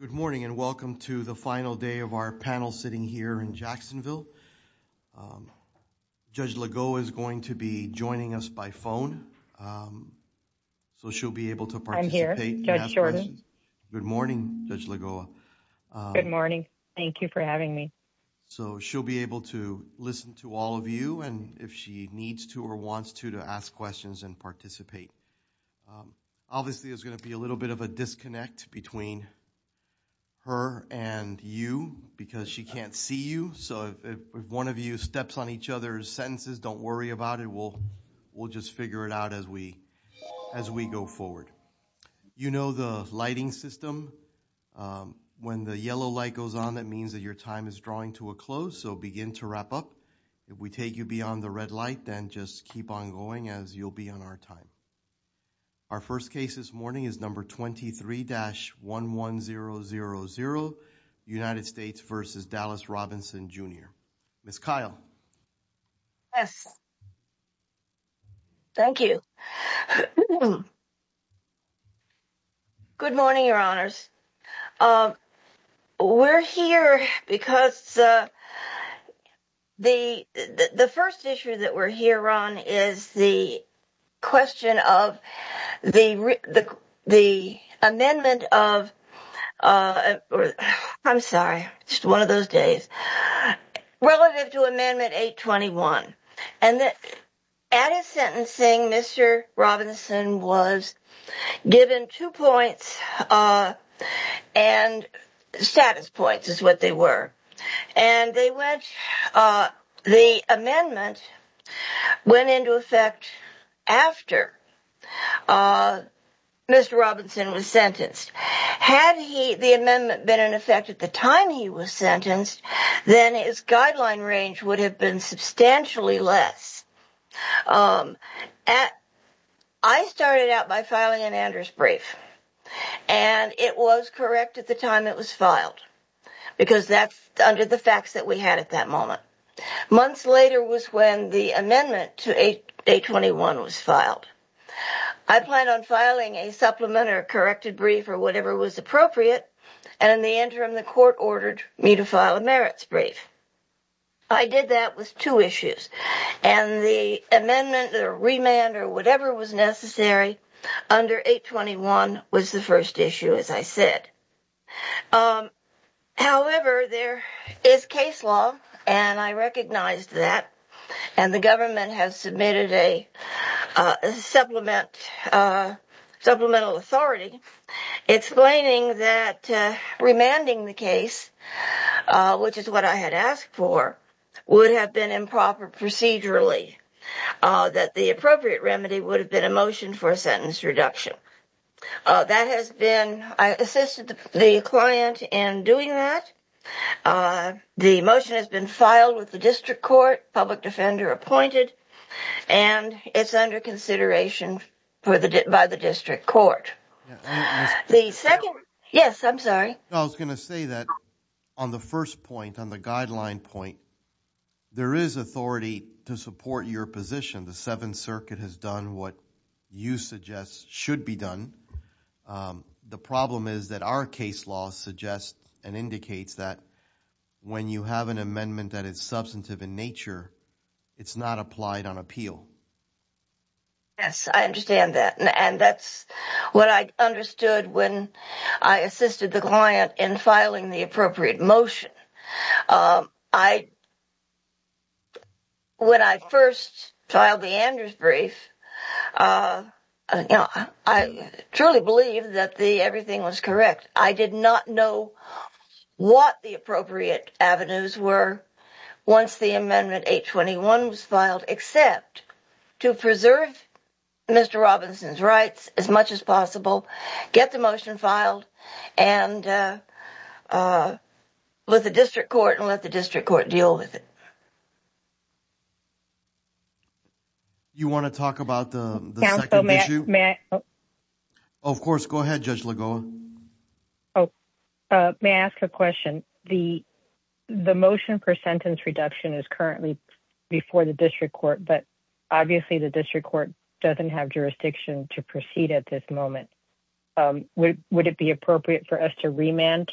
Good morning, and welcome to the final day of our panel sitting here in Jacksonville. Judge Lagoa is going to be joining us by phone, so she'll be able to participate. I'm here, Judge Jordan. Good morning, Judge Lagoa. Good morning. Thank you for having me. So she'll be able to listen to all of you, and if she needs to or wants to, to ask questions and participate. Obviously, there's going to be a little bit of a disconnect between her and you because she can't see you, so if one of you steps on each other's sentences, don't worry about it. We'll just figure it out as we go forward. You know the lighting system. When the yellow light goes on, that means that your time is drawing to a close, so begin to wrap up. If we take you beyond the red light, then just keep on going as you'll be on our time. Our first case this morning is number 23-11000, United States v. Dallas Robinson, Jr. Ms. Kyle. Yes. Thank you. Good morning, Your Honors. We're here because the first issue that we're here on is the question of the amendment of 821, I'm sorry, just one of those days, relative to Amendment 821. And at his sentencing, Mr. Robinson was given two points, status points is what they were. And they went, the amendment went into effect after Mr. Robinson was sentenced. Had the amendment been in effect at the time he was sentenced, then his guideline range would have been substantially less. I started out by filing an Anders brief, and it was correct at the time it was filed, because that's under the facts that we had at that moment. Months later was when the amendment to 821 was filed. I planned on filing a supplement or corrected brief or whatever was appropriate, and in the interim, the court ordered me to file a merits brief. I did that with two issues, and the amendment or remand or whatever was necessary under 821 was the first issue, as I said. However, there is case law, and I recognized that, and the government has submitted a supplemental authority explaining that remanding the case, which is what I had asked for, would have been improper procedurally, that the appropriate remedy would have been a motion for a sentence reduction. I assisted the client in doing that. The motion has been filed with the district court, public defender appointed, and it's under consideration by the district court. Yes, I'm sorry. I was going to say that on the first point, on the guideline point, there is authority to support your position. The Seventh Circuit has done what you suggest should be done. The problem is that our case law suggests and indicates that when you have an amendment that is substantive in nature, it's not applied on appeal. Yes, I understand that, and that's what I understood when I assisted the client in filing the appropriate motion. But when I first filed the Andrews brief, I truly believed that everything was correct. I did not know what the appropriate avenues were once the amendment 821 was filed, except to preserve Mr. Robinson's rights as much as possible, get the motion filed with the district court, and let the district court deal with it. You want to talk about the second issue? Of course. Go ahead, Judge Lagoa. May I ask a question? The motion for sentence reduction is currently before the district court, but obviously the district court doesn't have jurisdiction to proceed at this moment. Would it be appropriate for us to remand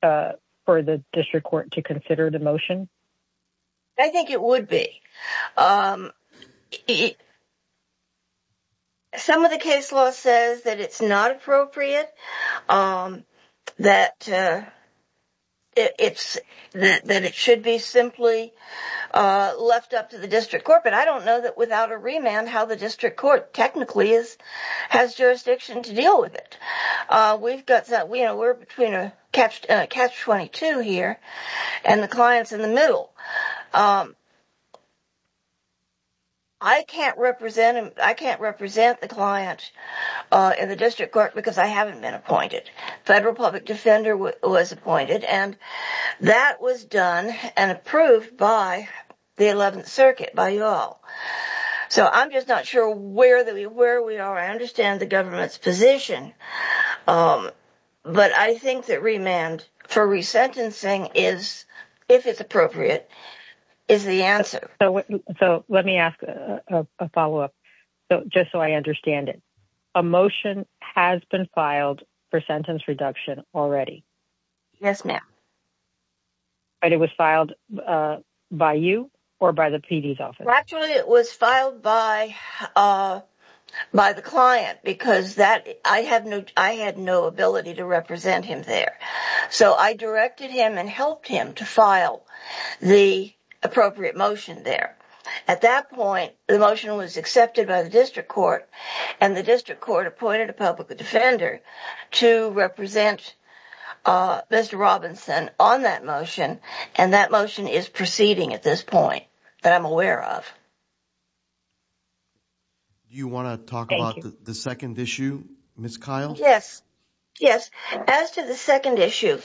for the district court to consider the motion? I think it would be. Some of the case law says that it's not appropriate, that it should be simply left up to the district court, but I don't know that without a remand how the district court technically has jurisdiction to deal with it. We're between a catch-22 here, and the client's in the middle. I can't represent the client in the district court because I haven't been appointed. Federal public defender was appointed, and that was done and approved by the 11th Circuit, by you all. So I'm just not sure where we are. I understand the government's position, but I think that remand for resentencing is, if it's appropriate, is the answer. So let me ask a follow-up, just so I understand it. A motion has been filed for sentence reduction already? Yes, ma'am. And it was filed by you or by the PD's office? Actually, it was filed by the client because I had no ability to represent him there. So I directed him and helped him to file the appropriate motion there. At that point, the motion was accepted by the district court, and the district court appointed a public defender to represent Mr. Robinson on that motion, and that motion is proceeding at this point that I'm aware of. You want to talk about the second issue, Ms. Kyle? Yes. Yes. As to the second issue,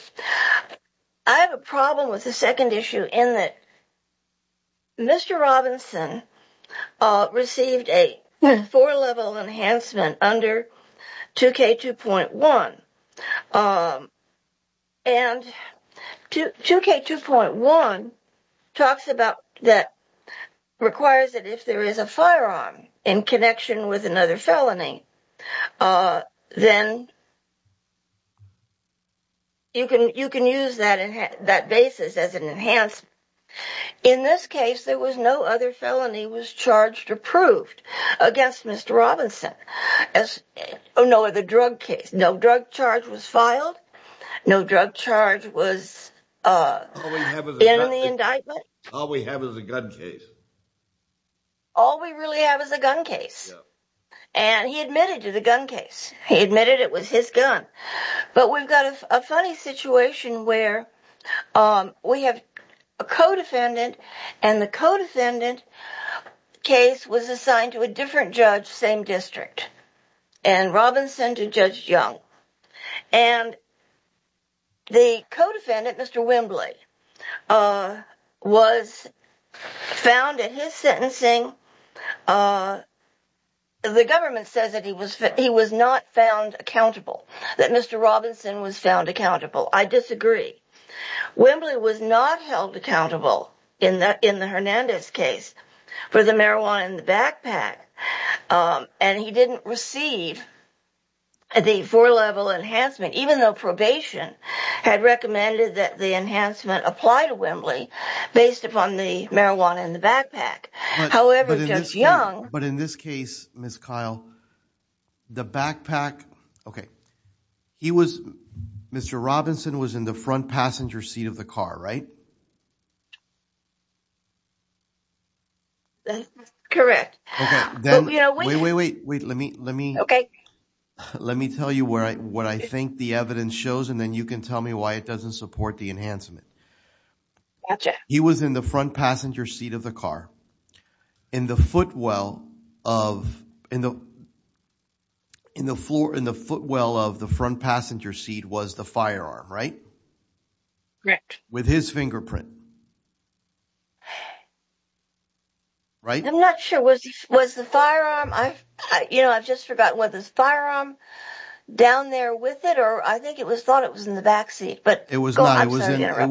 I have a problem with the second issue in that Mr. Robinson received a four-level enhancement under 2K2.1. And 2K2.1 talks about that, requires that if there is a firearm in connection with another felony, then you can use that basis as an enhancement. In this case, there was no other felony was charged or proved against Mr. Robinson, no other drug case. No drug charge was filed. No drug charge was in the indictment. All we have is a gun case. All we really have is a gun case, and he admitted to the gun case. He admitted it was his gun. But we've got a funny situation where we have a co-defendant, and the co-defendant case was assigned to a different judge, same district. And Robinson to Judge Young. And the co-defendant, Mr. Wembley, was found in his sentencing. The government says that he was not found accountable, that Mr. Robinson was found accountable. I disagree. Wembley was not held accountable in the Hernandez case for the marijuana in the backpack, and he didn't receive the four-level enhancement, even though probation had recommended that the enhancement apply to Wembley based upon the marijuana in the backpack. However, Judge Young... But in this case, Ms. Kyle, the backpack, okay, he was, Mr. Robinson was in the front passenger seat of the car, right? That's correct. Wait, wait, wait, let me tell you what I think the evidence shows, and then you can tell me why it doesn't support the enhancement. He was in the front passenger seat of the car. In the footwell of, in the footwell of the front passenger seat was the firearm, right? Correct. With his fingerprint, right? I'm not sure, was the firearm, I've, you know, I've just forgotten, was his firearm down there with it, or I think it was thought it was in the back seat, but... It was not, it was in the...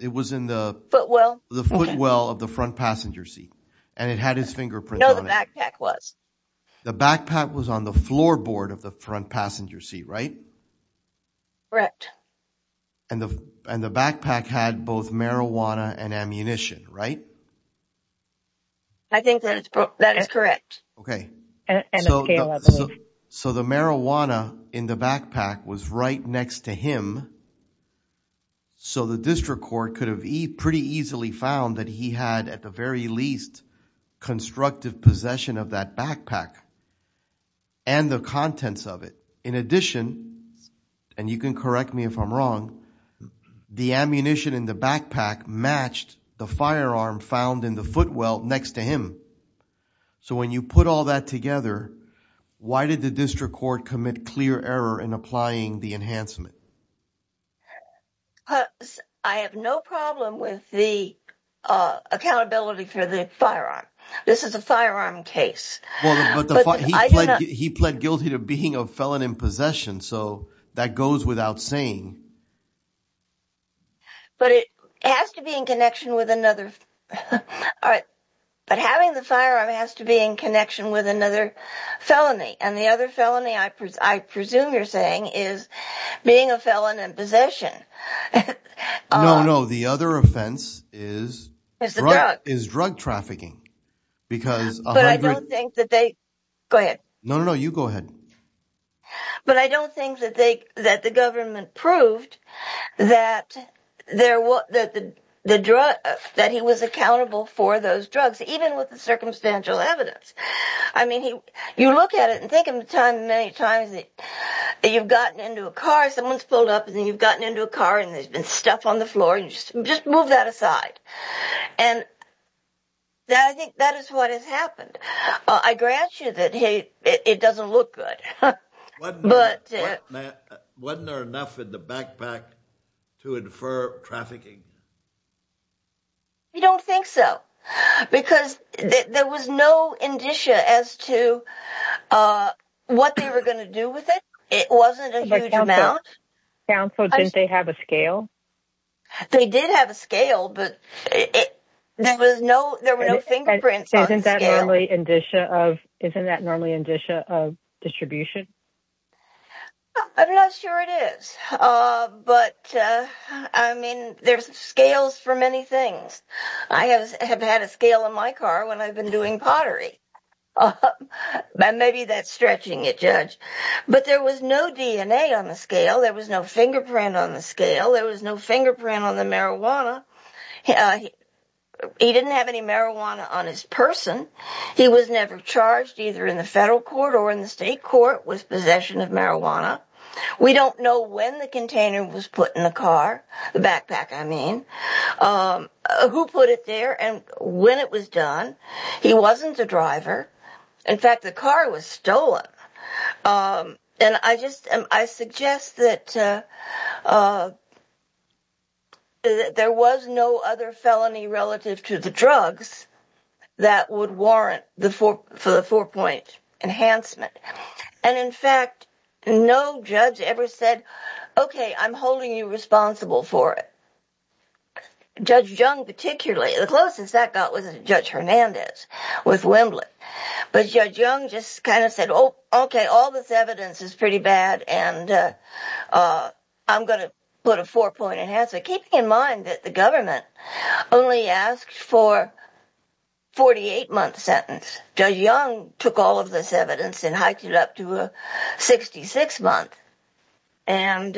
It was in the... Footwell? The footwell of the front passenger seat, and it had his fingerprint on it. No, the backpack was. The backpack was on the floorboard of the front passenger seat, right? Correct. And the backpack had both marijuana and ammunition, right? I think that is correct. Okay, so the marijuana in the backpack was right next to him, so the district court could have pretty easily found that he had, at the very least, constructive possession of that backpack and the contents of it. In addition, and you can correct me if I'm wrong, the ammunition in the backpack matched the firearm found in the footwell next to him, so when you put all that together, why did the district court commit clear error in applying the enhancement? I have no problem with the accountability for the firearm. This is a firearm case. He pled guilty to being a felon in possession, so that goes without saying. But it has to be in connection with another... All right, but having the firearm has to be in connection with another felony, and the other felony, I presume you're saying, is being a felon in possession. No, no, the other offense is drug trafficking, because... But I don't think that they... Go ahead. No, no, no, you go ahead. But I don't think that the government proved that he was accountable for those drugs, even with the circumstantial evidence. I mean, you look at it and think many times that you've gotten into a car, someone's pulled up and you've gotten into a car and there's been stuff on the floor, and you just move that aside. And I think that is what has happened. I grant you that it doesn't look good. Wasn't there enough in the backpack to infer trafficking? You don't think so, because there was no indicia as to what they were gonna do with it. It wasn't a huge amount. But counsel, didn't they have a scale? They did have a scale, but there were no fingerprints on the scale. Isn't that normally indicia of distribution? I'm not sure it is. But I mean, there's scales for many things. I have had a scale in my car when I've been doing pottery. Maybe that's stretching it, Judge. But there was no DNA on the scale. There was no fingerprint on the scale. There was no fingerprint on the marijuana. He didn't have any marijuana on his person. He was never charged, either in the federal court or in the state court, with possession of marijuana. We don't know when the container was put in the car, the backpack, I mean. Who put it there and when it was done. He wasn't a driver. In fact, the car was stolen. And I suggest that there was no other felony relative to the drugs that would warrant the four-point enhancement. And in fact, no judge ever said, okay, I'm holding you responsible for it. Judge Jung particularly, the closest that got was Judge Hernandez with Wembley. But Judge Jung just kind of said, okay, all this evidence is pretty bad and I'm going to put a four-point enhancement. Keeping in mind that the government only asked for a 48-month sentence. Judge Jung took all of this evidence and hiked it up to a 66-month. And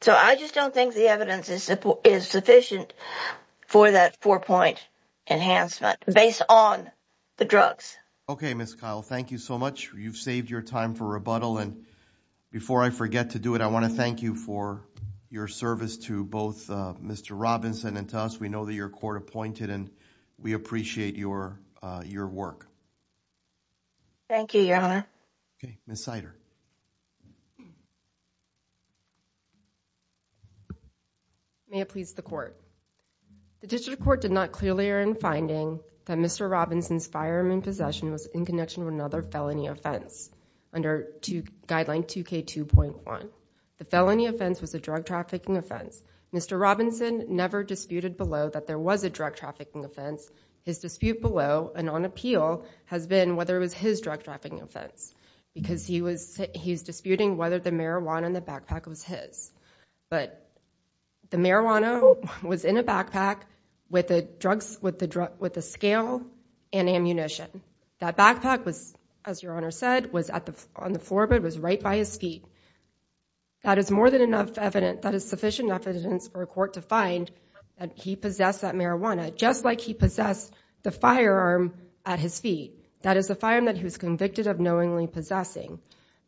so I just don't think the evidence is sufficient for that four-point enhancement based on the drugs. Okay, Ms. Kyle, thank you so much. You've saved your time for rebuttal. And before I forget to do it, I want to thank you for your service to both Mr. Robinson and to us. We know that you're court appointed and we appreciate your work. Thank you, Your Honor. Okay, Ms. Sider. May it please the court. The district court did not clearly earn finding that Mr. Robinson's fireman possession was in connection with another felony offense under guideline 2K2.1. The felony offense was a drug trafficking offense. Mr. Robinson never disputed below that there was a drug trafficking offense. His dispute below and on appeal has been whether it was his drug trafficking offense because he's disputing whether the marijuana in the backpack was his. But the marijuana was in a backpack with the scale and ammunition. That backpack was, as Your Honor said, was on the floor, but it was right by his feet. That is more than enough evidence, that is sufficient evidence for a court to find that he possessed that marijuana, just like he possessed the firearm at his feet. That is the firearm that he was convicted of knowingly possessing.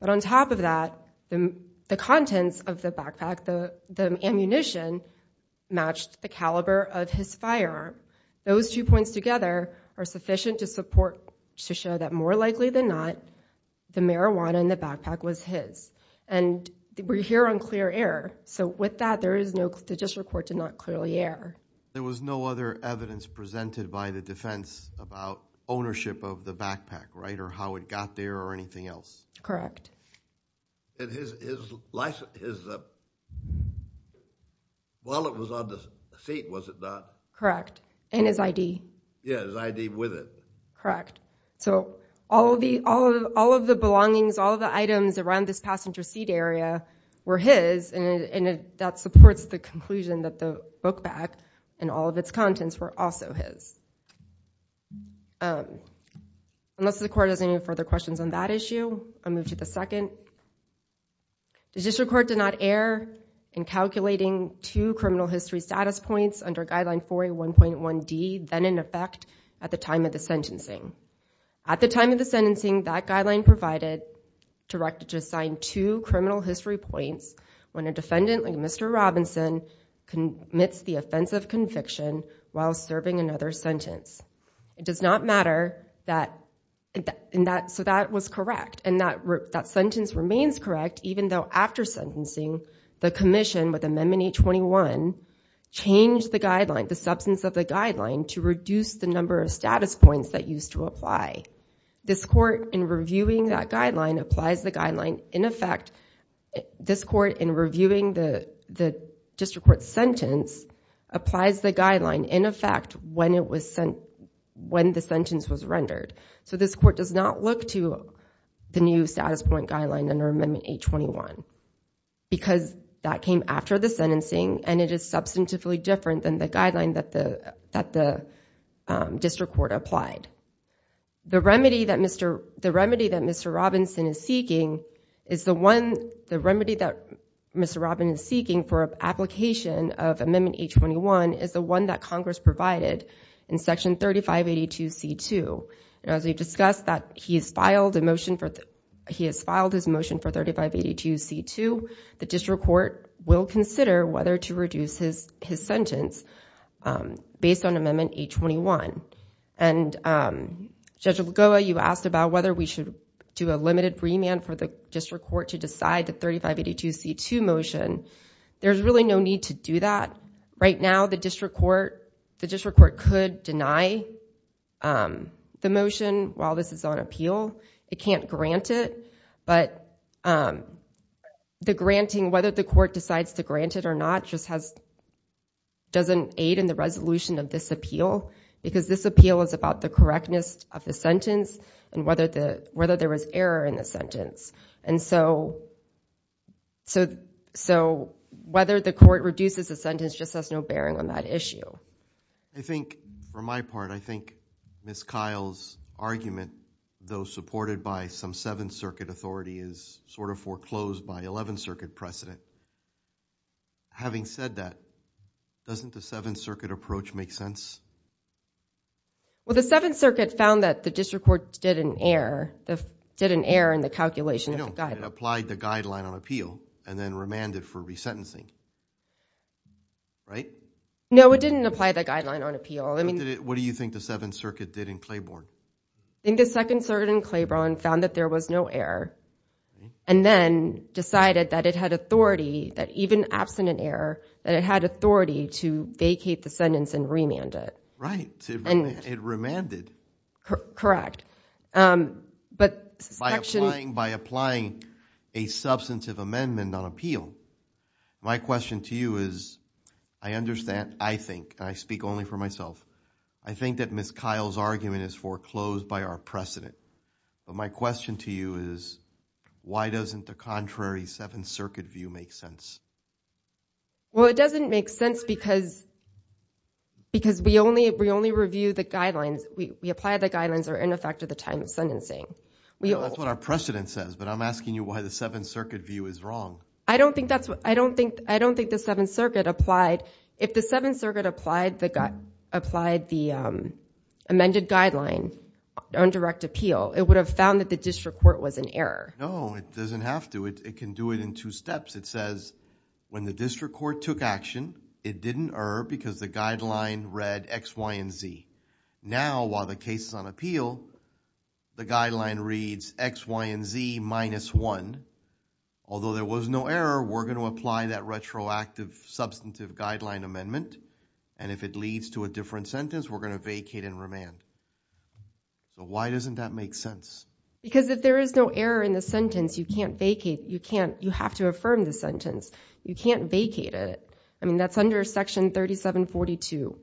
But on top of that, the contents of the backpack, the ammunition, matched the caliber of his firearm. Those two points together are sufficient to support, to show that more likely than not, the marijuana in the backpack was his. And we're here on clear error. So with that, there is no, the district court did not clearly err. There was no other evidence presented by the defense about ownership of the backpack, right, or how it got there or anything else? Correct. And his wallet was on the seat, was it not? Correct. And his ID. Yeah, his ID with it. Correct. So all of the belongings, all of the items around this passenger seat area were his, and that supports the conclusion that the book bag and all of its contents were also his. Unless the court has any further questions on that issue? I'll move to the second. The district court did not err in calculating two criminal history status points under guideline 4A1.1D, then in effect at the time of the sentencing. At the time of the sentencing, that guideline provided directed to assign two criminal history points when a defendant like Mr. Robinson commits the offense of conviction while serving another sentence. It does not matter that, and that, so that was correct. That sentence remains correct even though after sentencing, the commission with Amendment 821 changed the guideline, the substance of the guideline to reduce the number of status points that used to apply. This court in reviewing that guideline applies the guideline in effect, this court in reviewing the district court sentence applies the guideline in effect when it was sent, when the sentence was rendered. This court does not look to the new status point guideline under Amendment 821 because that came after the sentencing and it is substantively different than the guideline that the district court applied. The remedy that Mr. Robinson is seeking is the one, the remedy that Mr. Robinson is seeking for application of Amendment 821 is the one that Congress provided in Section 3582C2. As we've discussed that he has filed his motion for 3582C2, the district court will consider whether to reduce his sentence based on Amendment 821. Judge Algoa, you asked about whether we should do a limited remand for the district court to decide the 3582C2 motion. There's really no need to do that. Right now, the district court could deny the motion while this is on appeal. It can't grant it. But the granting, whether the court decides to grant it or not just doesn't aid in the resolution of this appeal because this appeal is about the correctness of the sentence and whether there was error in the sentence. And so, whether the court reduces the sentence just has no bearing on that issue. I think for my part, I think Ms. Kyle's argument though supported by some Seventh Circuit authority is sort of foreclosed by Eleventh Circuit precedent. Having said that, doesn't the Seventh Circuit approach make sense? Well, the Seventh Circuit found that the district court did an error in the calculation of the guideline. No, it applied the guideline on appeal and then remanded for resentencing, right? No, it didn't apply the guideline on appeal. What do you think the Seventh Circuit did in Claiborne? I think the Second Circuit in Claiborne found that there was no error and then decided that it had authority, that even absent an error, that it had authority to vacate the sentence and remand it. Right, it remanded. But by applying a substantive amendment on appeal, my question to you is, I understand, I think, and I speak only for myself, I think that Ms. Kyle's argument is foreclosed by our precedent. But my question to you is, why doesn't the contrary Seventh Circuit view make sense? Well, it doesn't make sense because we only review the guidelines, we apply the guidelines or in effect at the time of sentencing. That's what our precedent says, but I'm asking you why the Seventh Circuit view is wrong. I don't think the Seventh Circuit applied, if the Seventh Circuit applied the amended guideline on direct appeal, it would have found that the district court was in error. No, it doesn't have to, it can do it in two steps. It says when the district court took action, it didn't err because the guideline read X, Y, and Z. Now, while the case is on appeal, the guideline reads X, Y, and Z minus one. Although there was no error, we're going to apply that retroactive substantive guideline amendment and if it leads to a different sentence, we're going to vacate and remand. Why doesn't that make sense? Because if there is no error in the sentence, you can't vacate, you can't, you have to vacate the sentence. You can't vacate it. I mean, that's under section 3742,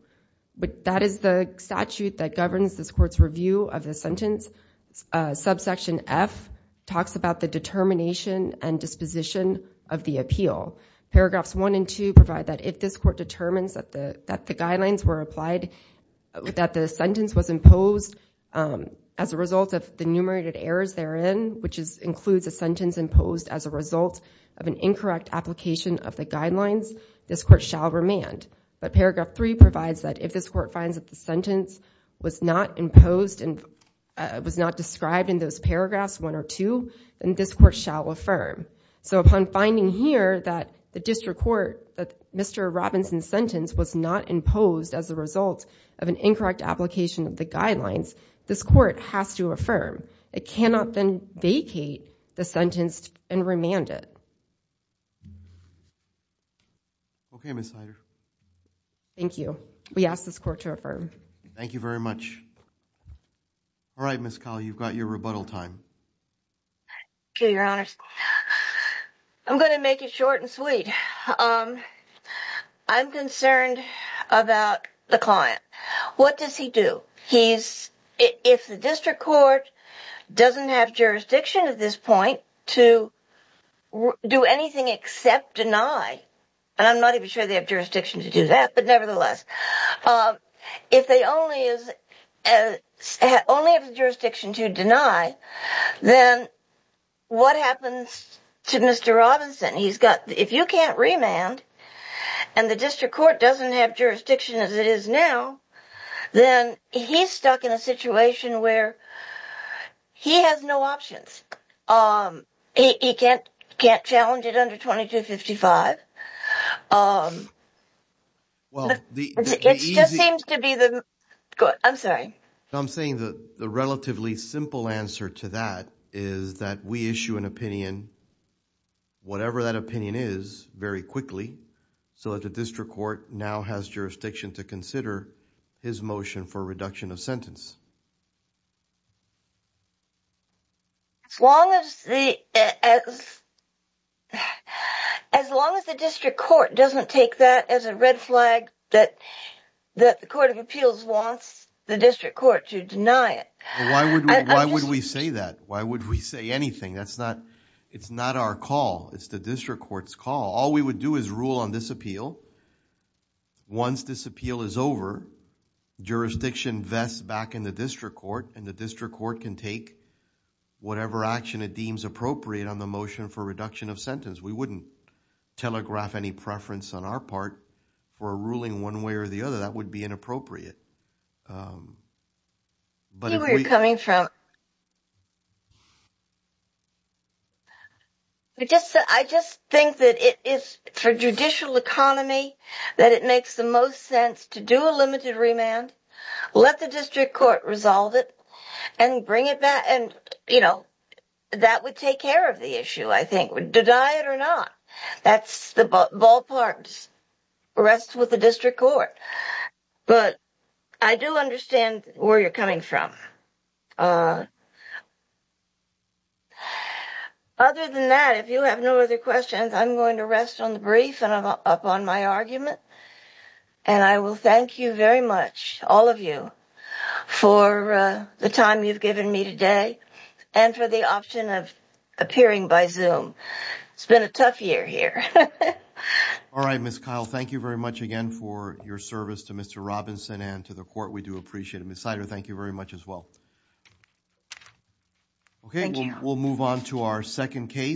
but that is the statute that governs this court's review of the sentence. Subsection F talks about the determination and disposition of the appeal. Paragraphs one and two provide that if this court determines that the guidelines were applied, that the sentence was imposed as a result of the numerated errors therein, which includes a sentence imposed as a result of an incorrect application of the guidelines, this court shall remand. But paragraph three provides that if this court finds that the sentence was not imposed and was not described in those paragraphs one or two, then this court shall affirm. So upon finding here that the district court, that Mr. Robinson's sentence was not imposed as a result of an incorrect application of the guidelines, this court has to affirm. It cannot then vacate the sentence and remand it. Okay, Ms. Heider. Thank you. We ask this court to affirm. Thank you very much. All right, Ms. Call, you've got your rebuttal time. Thank you, Your Honors. I'm going to make it short and sweet. I'm concerned about the client. What does he do? He's... if the district court doesn't have jurisdiction at this point to do anything except deny, and I'm not even sure they have jurisdiction to do that, but nevertheless, if they only have jurisdiction to deny, then what happens to Mr. Robinson? He's got... if you can't remand and the district court doesn't have jurisdiction as it is now, then he's stuck in a situation where he has no options. He can't challenge it under 2255. Well, the... It just seems to be the... I'm sorry. I'm saying that the relatively simple answer to that is that we issue an opinion, whatever that opinion is, very quickly, so that the district court now has jurisdiction to consider his motion for reduction of sentence. As long as the... As long as the district court doesn't take that as a red flag that the court of appeals wants the district court to deny it. Why would we say that? Why would we say anything? That's not... it's not our call. It's the district court's call. All we would do is rule on this appeal. Once this appeal is over, jurisdiction vests back in the district court, and the district court can take whatever action it deems appropriate on the motion for reduction of sentence. We wouldn't telegraph any preference on our part for a ruling one way or the other. That would be inappropriate. But if we... See where you're coming from. I just think that it is for judicial economy that it makes the most sense to do a limited remand, let the district court resolve it, and bring it back. And, you know, that would take care of the issue, I think, would deny it or not. That's the ballparks. Rest with the district court. But I do understand where you're coming from. Other than that, if you have no other questions, I'm going to rest on the brief and I'm up on my argument. And I will thank you very much, all of you, for the time you've given me today and for the option of appearing by Zoom. It's been a tough year here. All right, Ms. Kyle, thank you very much again for your service to Mr. Robinson and to the court. We do appreciate it. Thank you very much as well. Okay, we'll move on to our second case.